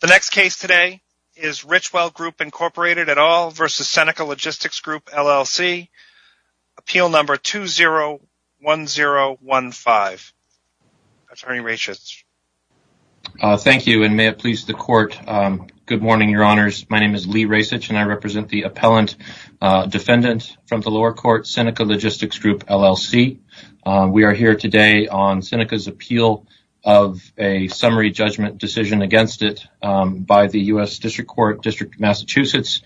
The next case today is Richwell Group, Inc. v. Seneca Logistics Group, LLC, Appeal Number 201015. Attorney Rasich. Thank you and may it please the Court. Good morning, Your Honors. My name is Lee Rasich and I represent the Appellant Defendant from the lower court, Seneca Logistics Group, LLC. We are here today on Seneca's appeal of a summary judgment decision against it by the U.S. District Court, District of Massachusetts.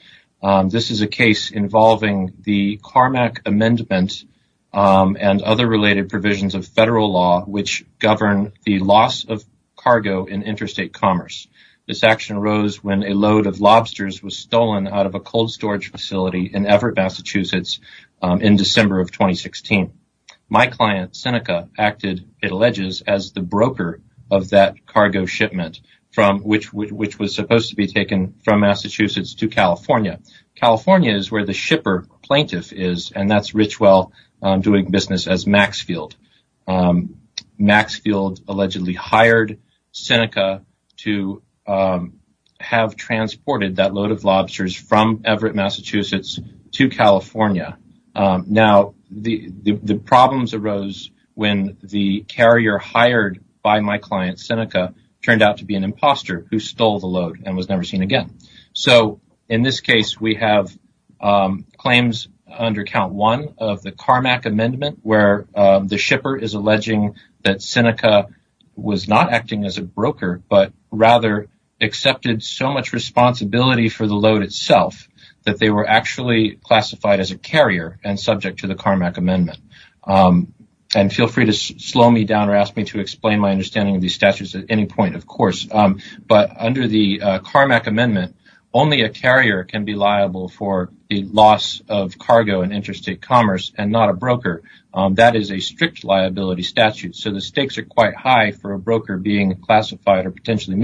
This is a case involving the Carmack Amendment and other related provisions of federal law which govern the loss of cargo in interstate commerce. This action arose when a load of lobsters was stolen out of a cold storage facility in Everett, Massachusetts in December of 2016. My client, Seneca, acted, it alleges, as the broker of that cargo shipment which was supposed to be taken from Massachusetts to California. California is where the shipper plaintiff is and that's Richwell doing business as Maxfield. Maxfield allegedly hired Seneca to have transported that load of lobsters from Everett, Massachusetts to California. Now, the problems arose when the carrier hired by my client, Seneca, turned out to be an imposter who stole the load and was never seen again. In this case, we have claims under Count 1 of the Carmack Amendment where the shipper is alleging that Seneca was not acting as a broker but rather accepted so much responsibility for the load itself that they were actually classified as a carrier and subject to the Carmack Amendment. Feel free to slow me down or ask me to explain my understanding of these statutes at any point, of course, but under the Carmack Amendment, only a carrier can be liable for the loss of cargo in interstate commerce and not a broker. That is a strict liability statute, so the stakes are quite high for a broker being classified or potentially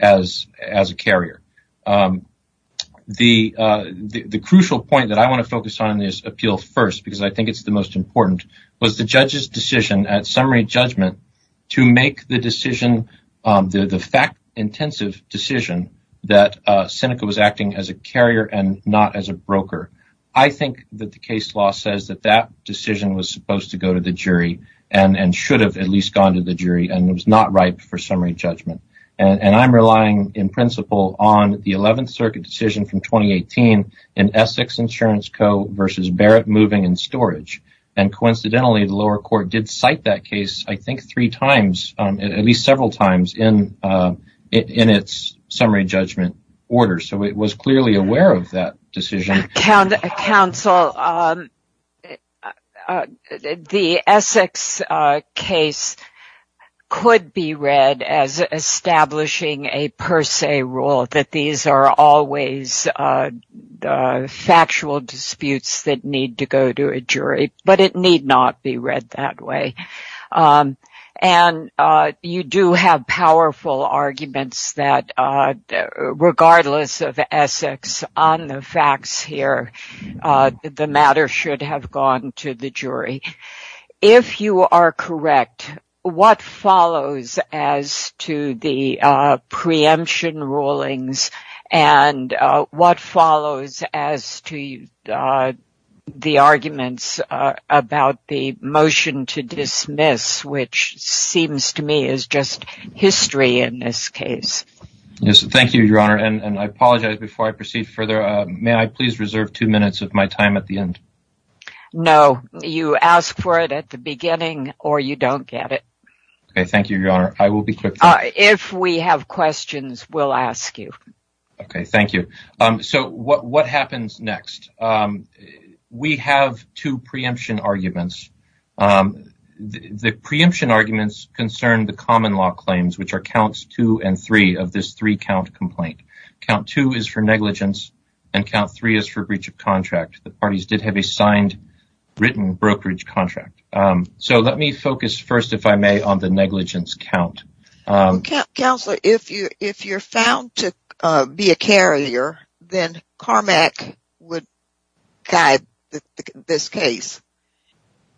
as a carrier. The crucial point that I want to focus on in this appeal first because I think it's the most important was the judge's decision at summary judgment to make the fact-intensive decision that Seneca was acting as a carrier and not as a broker. I think that the case law says that that decision was supposed to go to the jury and should have at least gone to the jury and was not ripe for summary judgment. I'm relying in principle on the 11th Circuit decision from 2018 in Essex Insurance Co. v. Barrett Moving and Storage. Coincidentally, the lower court did cite that case I think three times, at least several times in its summary judgment order, so it was clearly aware of that decision. Counsel, the Essex case could be read as establishing a per se rule that these are always factual disputes that need to go to a jury, but it need not be read that way. You do have powerful arguments that regardless of Essex on the facts here, the matter should have gone to the jury. If you are correct, what follows as to the preemption rulings and what follows Thank you, Your Honor. I apologize before I proceed further. May I please reserve two minutes of my time at the end? No. You ask for it at the beginning or you don't get it. Thank you, Your Honor. I will be quick. If we have questions, we'll ask you. Thank you. What happens next? We have two preemption arguments. The preemption arguments concern the count two and three of this three count complaint. Count two is for negligence and count three is for breach of contract. The parties did have a signed written brokerage contract. So let me focus first, if I may, on the negligence count. Counselor, if you're found to be a carrier, then Carmack would guide this case.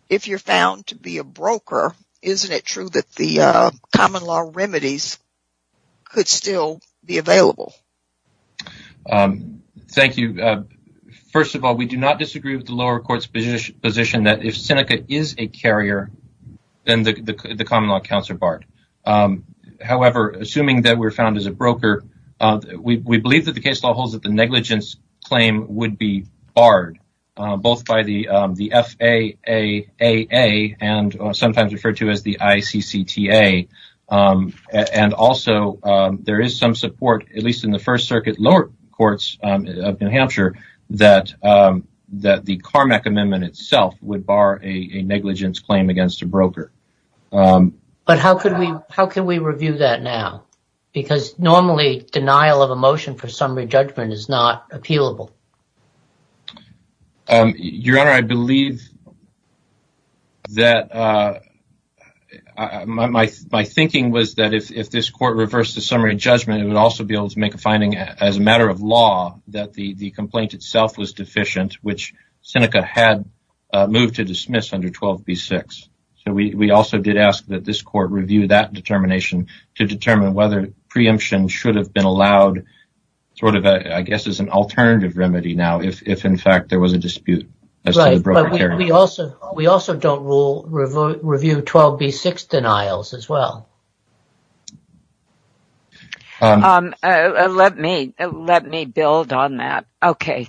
If you're found to be a broker, isn't it true that the common law remedies could still be available? Thank you. First of all, we do not disagree with the lower court's position that if Seneca is a carrier, then the common law counts are barred. However, assuming that we're found as a broker, we believe that the case law holds that the negligence claim would be barred, both by the FAAA and sometimes referred to as the ICCTA. And also there is some support, at least in the First Circuit lower courts of New Hampshire, that that the Carmack amendment itself would bar a negligence claim against a broker. But how could we review that now? Because normally denial of a motion for summary judgment is not appealable. Your Honor, I believe that my thinking was that if this court reversed the summary judgment, it would also be able to make a finding as a matter of law that the complaint itself was deficient, which Seneca had moved to dismiss under 12b-6. So we also did ask that this court review that determination to determine whether preemption should have been allowed, sort of, I guess, as an alternative remedy now, if in fact there was a dispute. But we also we also don't rule review 12b-6 denials as well. Let me let me build on that. OK,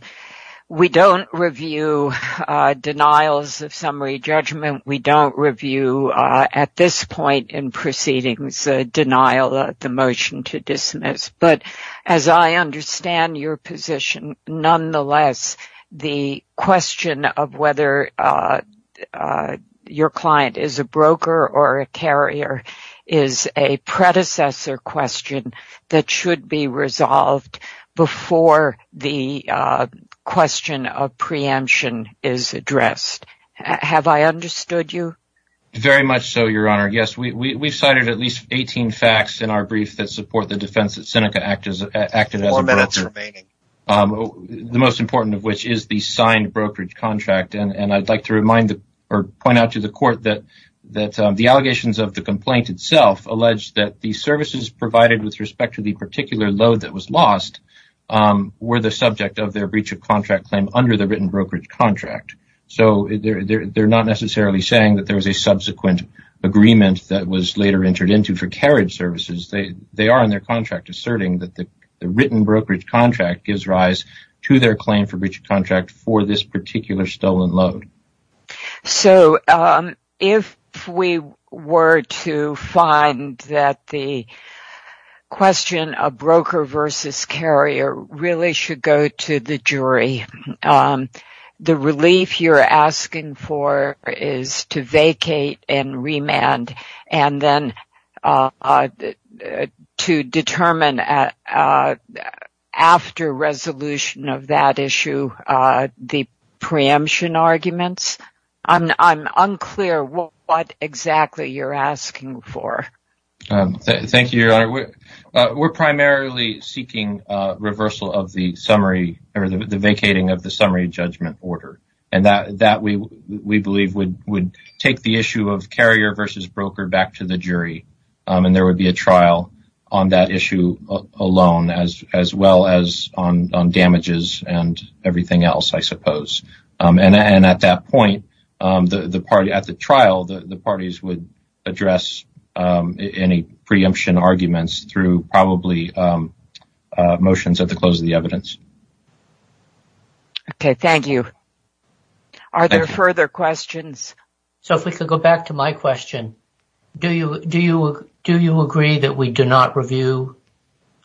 we don't review denials of summary judgment. We don't review at this point in proceedings a denial of the motion to dismiss. But as I understand your position, nonetheless, the question of whether your client is a broker or a carrier is a predecessor question that should be resolved before the question of preemption is addressed. Have I understood you? Very much so, Your Honor. Yes, we've cited at least 18 facts in our brief that support the defense that Seneca acted as the most important of which is the signed brokerage contract. And I'd like to remind or point out to the court that that the allegations of the complaint itself alleged that the services provided with respect to the particular load that was lost were the subject of their breach of contract claim under the written brokerage contract. So they're not necessarily saying that there was a subsequent agreement that was later entered into for carriage services. They are in their contract asserting that the written brokerage contract gives rise to their claim for breach of contract for this particular stolen load. So if we were to find that the question of broker versus carrier really should go to the jury, the relief you're asking for is to vacate and remand. And then to determine after resolution of that issue, the preemption arguments. I'm unclear what exactly you're asking for. We're primarily seeking reversal of the summary or the vacating of the summary judgment order. And that we believe would take the issue of carrier versus broker back to the jury. And there would be a trial on that issue alone, as well as on damages and everything else, I suppose. And at that point, the party at the trial, the parties would address any preemption arguments through probably motions at the close of the evidence. OK, thank you. Are there further questions? So if we could go back to my question, do you do you do you agree that we do not review?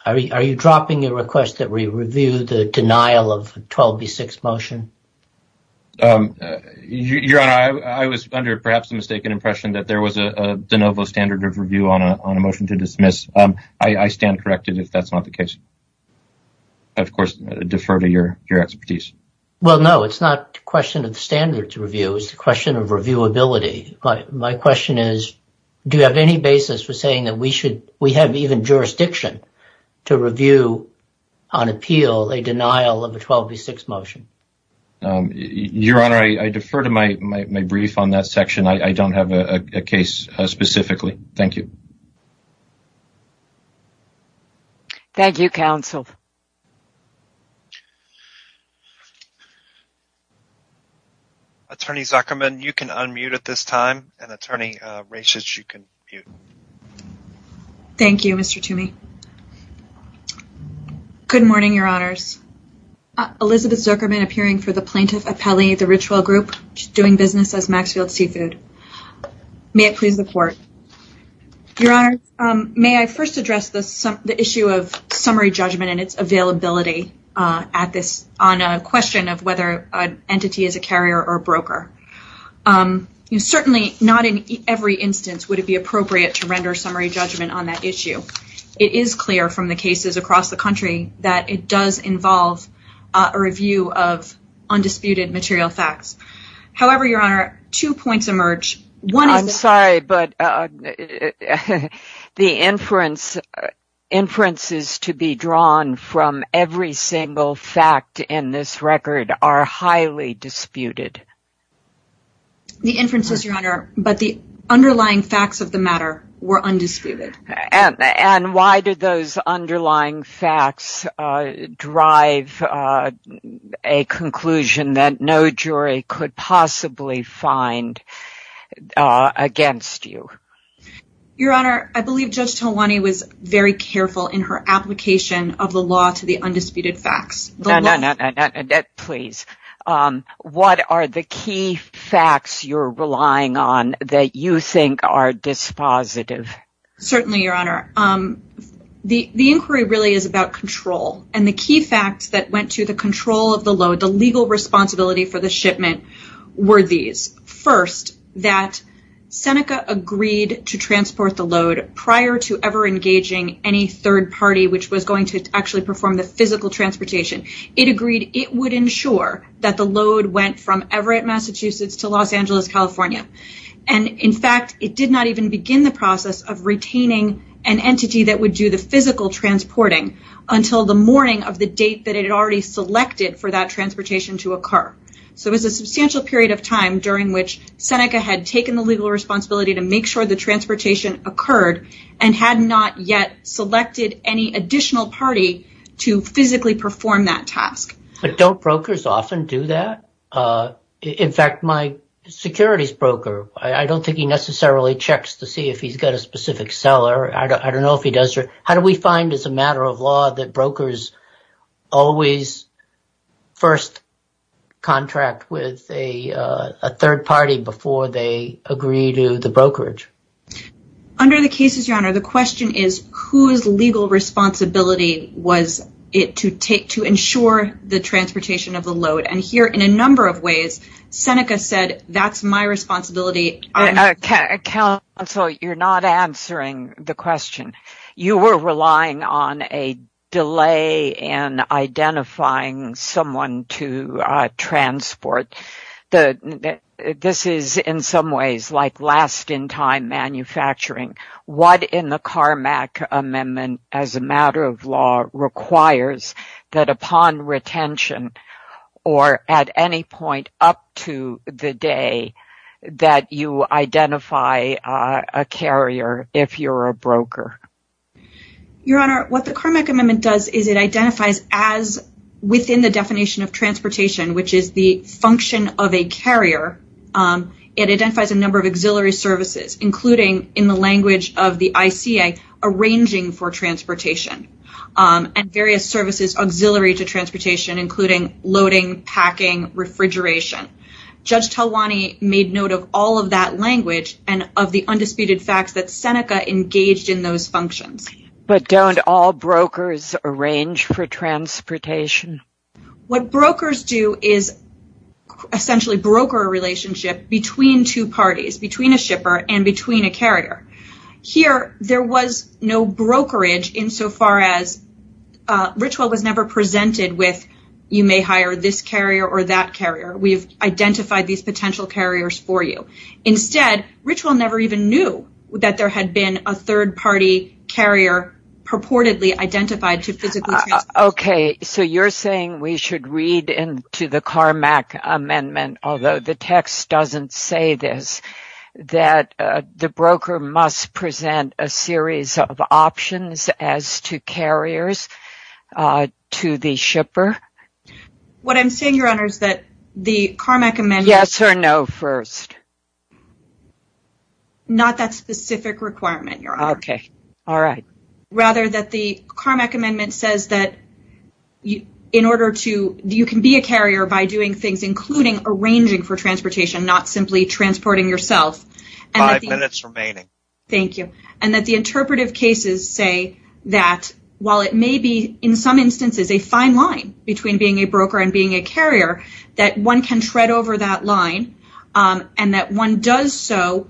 Are you dropping your request that we review the denial of 12B6 motion? Your Honor, I was under perhaps a mistaken impression that there was a de novo standard of review on a motion to dismiss. I stand corrected if that's not the case. Of course, defer to your expertise. Well, no, it's not a question of standards review. It's a question of reviewability. My question is, do you have any basis for saying that we should we have even jurisdiction to review on appeal a denial of a 12B6 motion? Your Honor, I defer to my brief on that section. I don't have a case specifically. Thank you. Thank you, counsel. Attorney Zuckerman, you can unmute at this time and attorney Rashes, you can mute. Thank you, Mr. Toomey. Good morning, Your Honors. Elizabeth Zuckerman appearing for the plaintiff appellee, the ritual group doing business as Maxfield Seafood. May it please the court. Your Honor, may I first address the issue of summary judgment and its availability on a question of whether an entity is a carrier or a broker? Certainly, not in every instance would it be appropriate to render summary judgment on that issue. It is clear from the cases across the country that it does involve a review of undisputed material facts. However, Your Honor, two points emerge. I'm sorry, but the inferences to be drawn from every single fact in this record are highly disputed. The inferences, Your Honor, but the underlying facts of the matter were undisputed. And why did those underlying facts drive a conclusion that no jury could possibly find against you? Your Honor, I believe Judge Tolwani was very careful in her application of the law to the undisputed facts. No, no, no, no, no, no, no. Please. What are the key facts you're relying on that you think are dispositive? Firstly, Your Honor, the inquiry really is about control. And the key facts that went to the control of the load, the legal responsibility for the shipment, were these. First, that Seneca agreed to transport the load prior to ever engaging any third party which was going to actually perform the physical transportation. It agreed it would ensure that the load went from Everett, Massachusetts to Los Angeles, California. And in fact, it did not even begin the process of retaining an entity that would do the physical transporting until the morning of the date that it had already selected for that transportation to occur. So it was a substantial period of time during which Seneca had taken the legal responsibility to make sure the transportation occurred and had not yet selected any additional party to physically perform that task. But don't brokers often do that? In fact, my securities broker, I don't think he necessarily checks to see if he's got a specific seller. I don't know if he does. How do we find it's a matter of law that brokers always first contract with a third party before they agree to the brokerage? Under the cases, Your Honor, the question is whose legal responsibility was it to take to ensure the transportation of the load? And here in a number of ways, Seneca said that's my responsibility. Counsel, you're not answering the question. You were relying on a delay in identifying someone to transport. This is in some ways like last in time manufacturing. What in the Carmack Amendment as a matter of law requires that upon retention or at any point up to the day that you identify a carrier if you're a broker? Your Honor, what the Carmack Amendment does is it identifies as within the definition of transportation, which is the function of a carrier. It identifies a number of auxiliary services, including in the language of the ICA, arranging for transportation and various services auxiliary to transportation, including loading, packing, refrigeration. Judge Talwani made note of all of that language and of the undisputed facts that Seneca engaged in those functions. But don't all brokers arrange for transportation? What brokers do is essentially broker a relationship between two parties, between a shipper and between a carrier. Here, there was no brokerage insofar as Richwell was never presented with you may hire this carrier or that carrier. We've identified these potential carriers for you. Instead, Richwell never even knew that there had been a third-party carrier purportedly identified to physically transport. Okay, so you're saying we should read into the Carmack Amendment, although the text doesn't say this, that the broker must present a series of options as to carriers to the shipper? What I'm saying, Your Honor, is that the Carmack Amendment... Yes or no first? Not that specific requirement, Your Honor. Okay. All right. Rather, that the Carmack Amendment says that you can be a carrier by doing things, including arranging for transportation, not simply transporting yourself. Five minutes remaining. Thank you. And that the interpretive cases say that while it may be, in some instances, a fine line between being a broker and being a carrier, that one can tread over that line and that one does so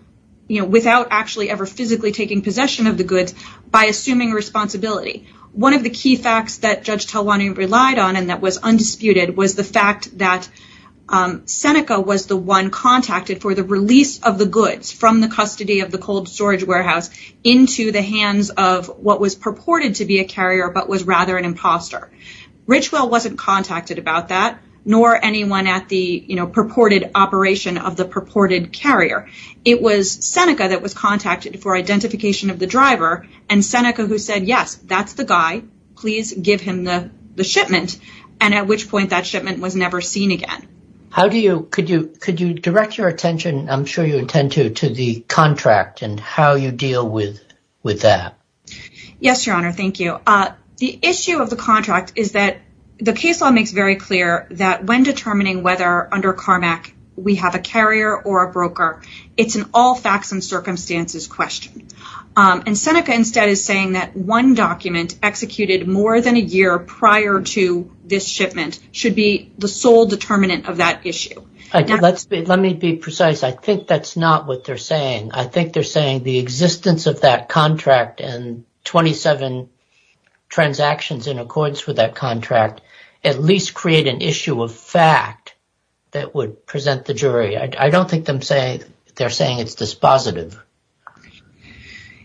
without actually ever physically taking possession of the goods by assuming responsibility. One of the key facts that Judge Talwani relied on and that was undisputed was the fact that Seneca was the one contacted for the release of the goods from the custody of the cold storage warehouse into the hands of what was purported to be a carrier but was rather an imposter. Richwell wasn't contacted about that, nor anyone at the purported operation of the purported carrier. It was Seneca that was contacted for identification of the driver and Seneca who said, yes, that's the guy. Please give him the shipment. And at which point that shipment was never seen again. How do you... Could you direct your attention, I'm sure you intend to, to the contract and how you deal with that? Yes, Your Honor. Thank you. The issue of the contract is that the case law makes very clear that when determining whether under CARMAC we have a carrier or a broker, it's an all facts and circumstances question. And Seneca instead is saying that one document executed more than a year prior to this shipment should be the sole determinant of that issue. Let me be precise. I think that's not what they're saying. I think they're saying the existence of that contract and 27 transactions in accordance with that contract at least create an issue of fact that would present the jury. I don't think they're saying it's dispositive.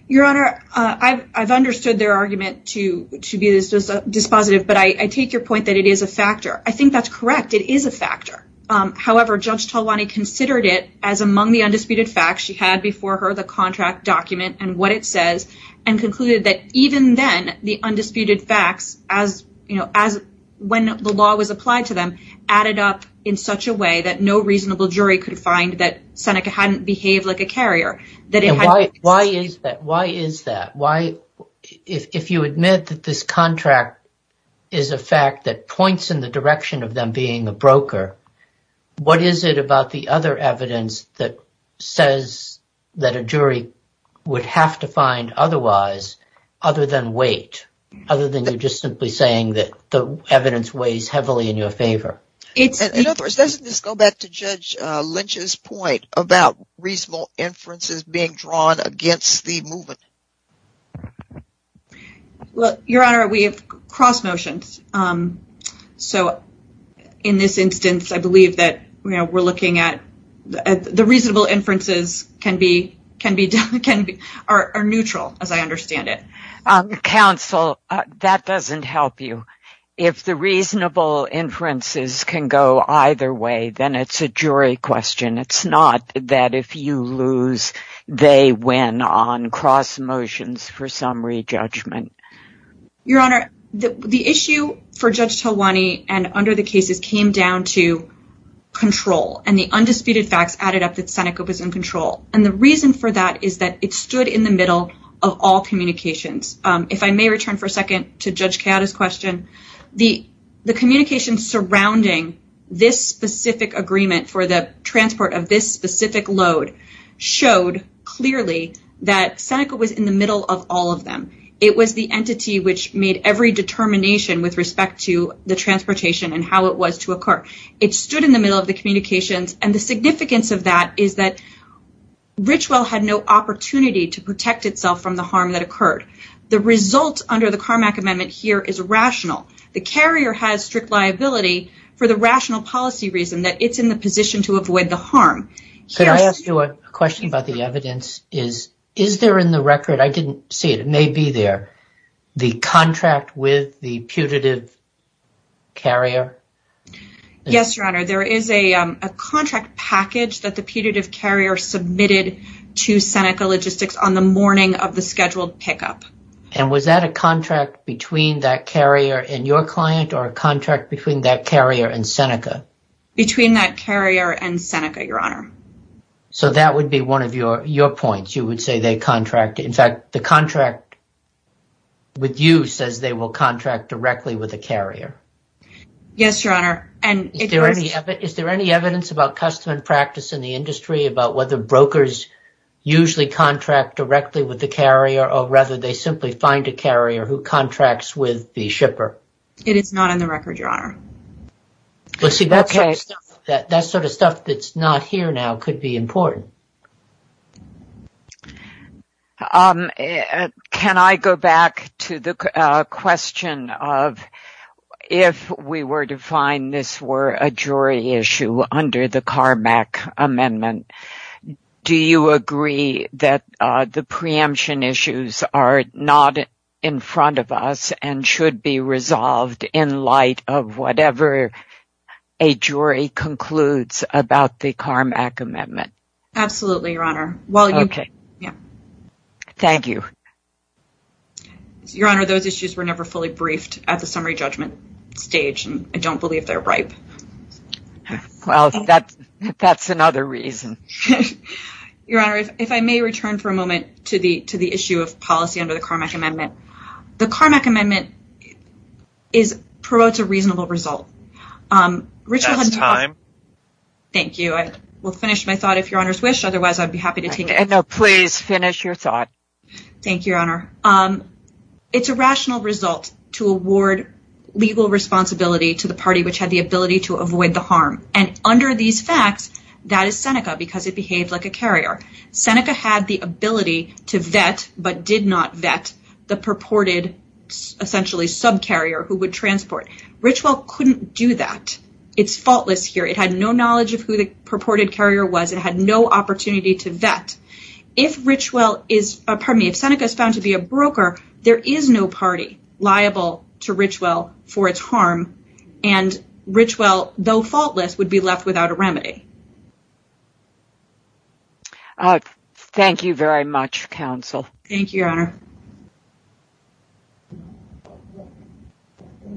Your Honor, I've understood their argument to be dispositive, but I take your point that it is a factor. I think that's correct. It is a factor. However, Judge Talwani considered it as among the undisputed facts she had before her, the contract document and what it says, and concluded that even then the undisputed facts as, you know, as when the law was applied to them added up in such a way that no reasonable jury could find that Seneca hadn't behaved like a carrier. Why is that? Why is that? If you admit that this contract is a fact that points in the direction of them being a broker, what is it about the other evidence that says that a jury would have to find otherwise other than weight? Other than you're just simply saying that the evidence weighs heavily in your favor. In other words, doesn't this go back to Judge Lynch's point about reasonable inferences being drawn against the movement? Well, Your Honor, we have cross motions. So in this instance, I believe that we're looking at the reasonable inferences can be are neutral as I understand it. Counsel, that doesn't help you. If the reasonable inferences can go either way, then it's a jury question. It's not that if you lose, they win on cross motions for summary judgment. Your Honor, the issue for Judge Tawani and under the cases came down to control and the undisputed facts added up that Seneca was in control. And the reason for that is that it stood in the middle of all communications. If I may return for a second to Judge Keada's question, the communication surrounding this specific agreement for the transport of this specific load showed clearly that Seneca was in the middle of all of them. It was the entity which made every determination with respect to the transportation and how it was to occur. It stood in the middle of the communications. And the significance of that is that Richwell had no opportunity to protect itself from the harm that occurred. The result under the Carmack Amendment here is rational. The carrier has strict liability for the rational policy reason that it's in the position to avoid the harm. Could I ask you a question about the evidence? Is there in the record, I didn't see it, it may be there, the contract with the putative carrier? Yes, Your Honor. There is a contract package that the putative carrier submitted to Seneca Logistics on the morning of the scheduled pickup. And was that a contract between that carrier and your client or a contract between that carrier and Seneca? Between that carrier and Seneca, Your Honor. So that would be one of your points. You would say they contracted. In fact, the contract with you says they will contract directly with the carrier. Yes, Your Honor. Is there any evidence about custom and practice in the industry about whether brokers usually contract directly with the carrier or rather they simply find a carrier who contracts with the shipper? It is not in the record, Your Honor. That sort of stuff that's not here now could be important. Can I go back to the question of if we were to find this were a jury issue under the CARMAC amendment, do you agree that the preemption issues are not in front of us and should be resolved in light of whatever a jury concludes about the CARMAC amendment? Absolutely, Your Honor. Okay. Thank you. Your Honor, those issues were never fully briefed at the summary judgment stage and I don't believe they're ripe. Well, that's another reason. Your Honor, if I may return for a moment to the issue of policy under the CARMAC amendment. The CARMAC amendment promotes a reasonable result. That's time. Thank you. I will finish my thought if Your Honor's wish. Otherwise, I'd be happy to take it. No, please finish your thought. Thank you, Your Honor. It's a rational result to award legal responsibility to the party which had the ability to avoid the harm. And under these facts, that is Seneca because it behaved like a carrier. Seneca had the ability to vet but did not vet the purported essentially subcarrier who would transport. Richwell couldn't do that. It's faultless here. It had no knowledge of who the purported carrier was. It had no opportunity to vet. If Seneca is found to be a broker, there is no party liable to Richwell for its harm. And Richwell, though faultless, would be left without a remedy. Thank you very much, counsel. Thank you, Your Honor.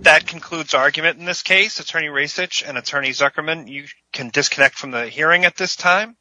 That concludes argument in this case. Attorney Rasich and Attorney Zuckerman, you can disconnect from the hearing at this time.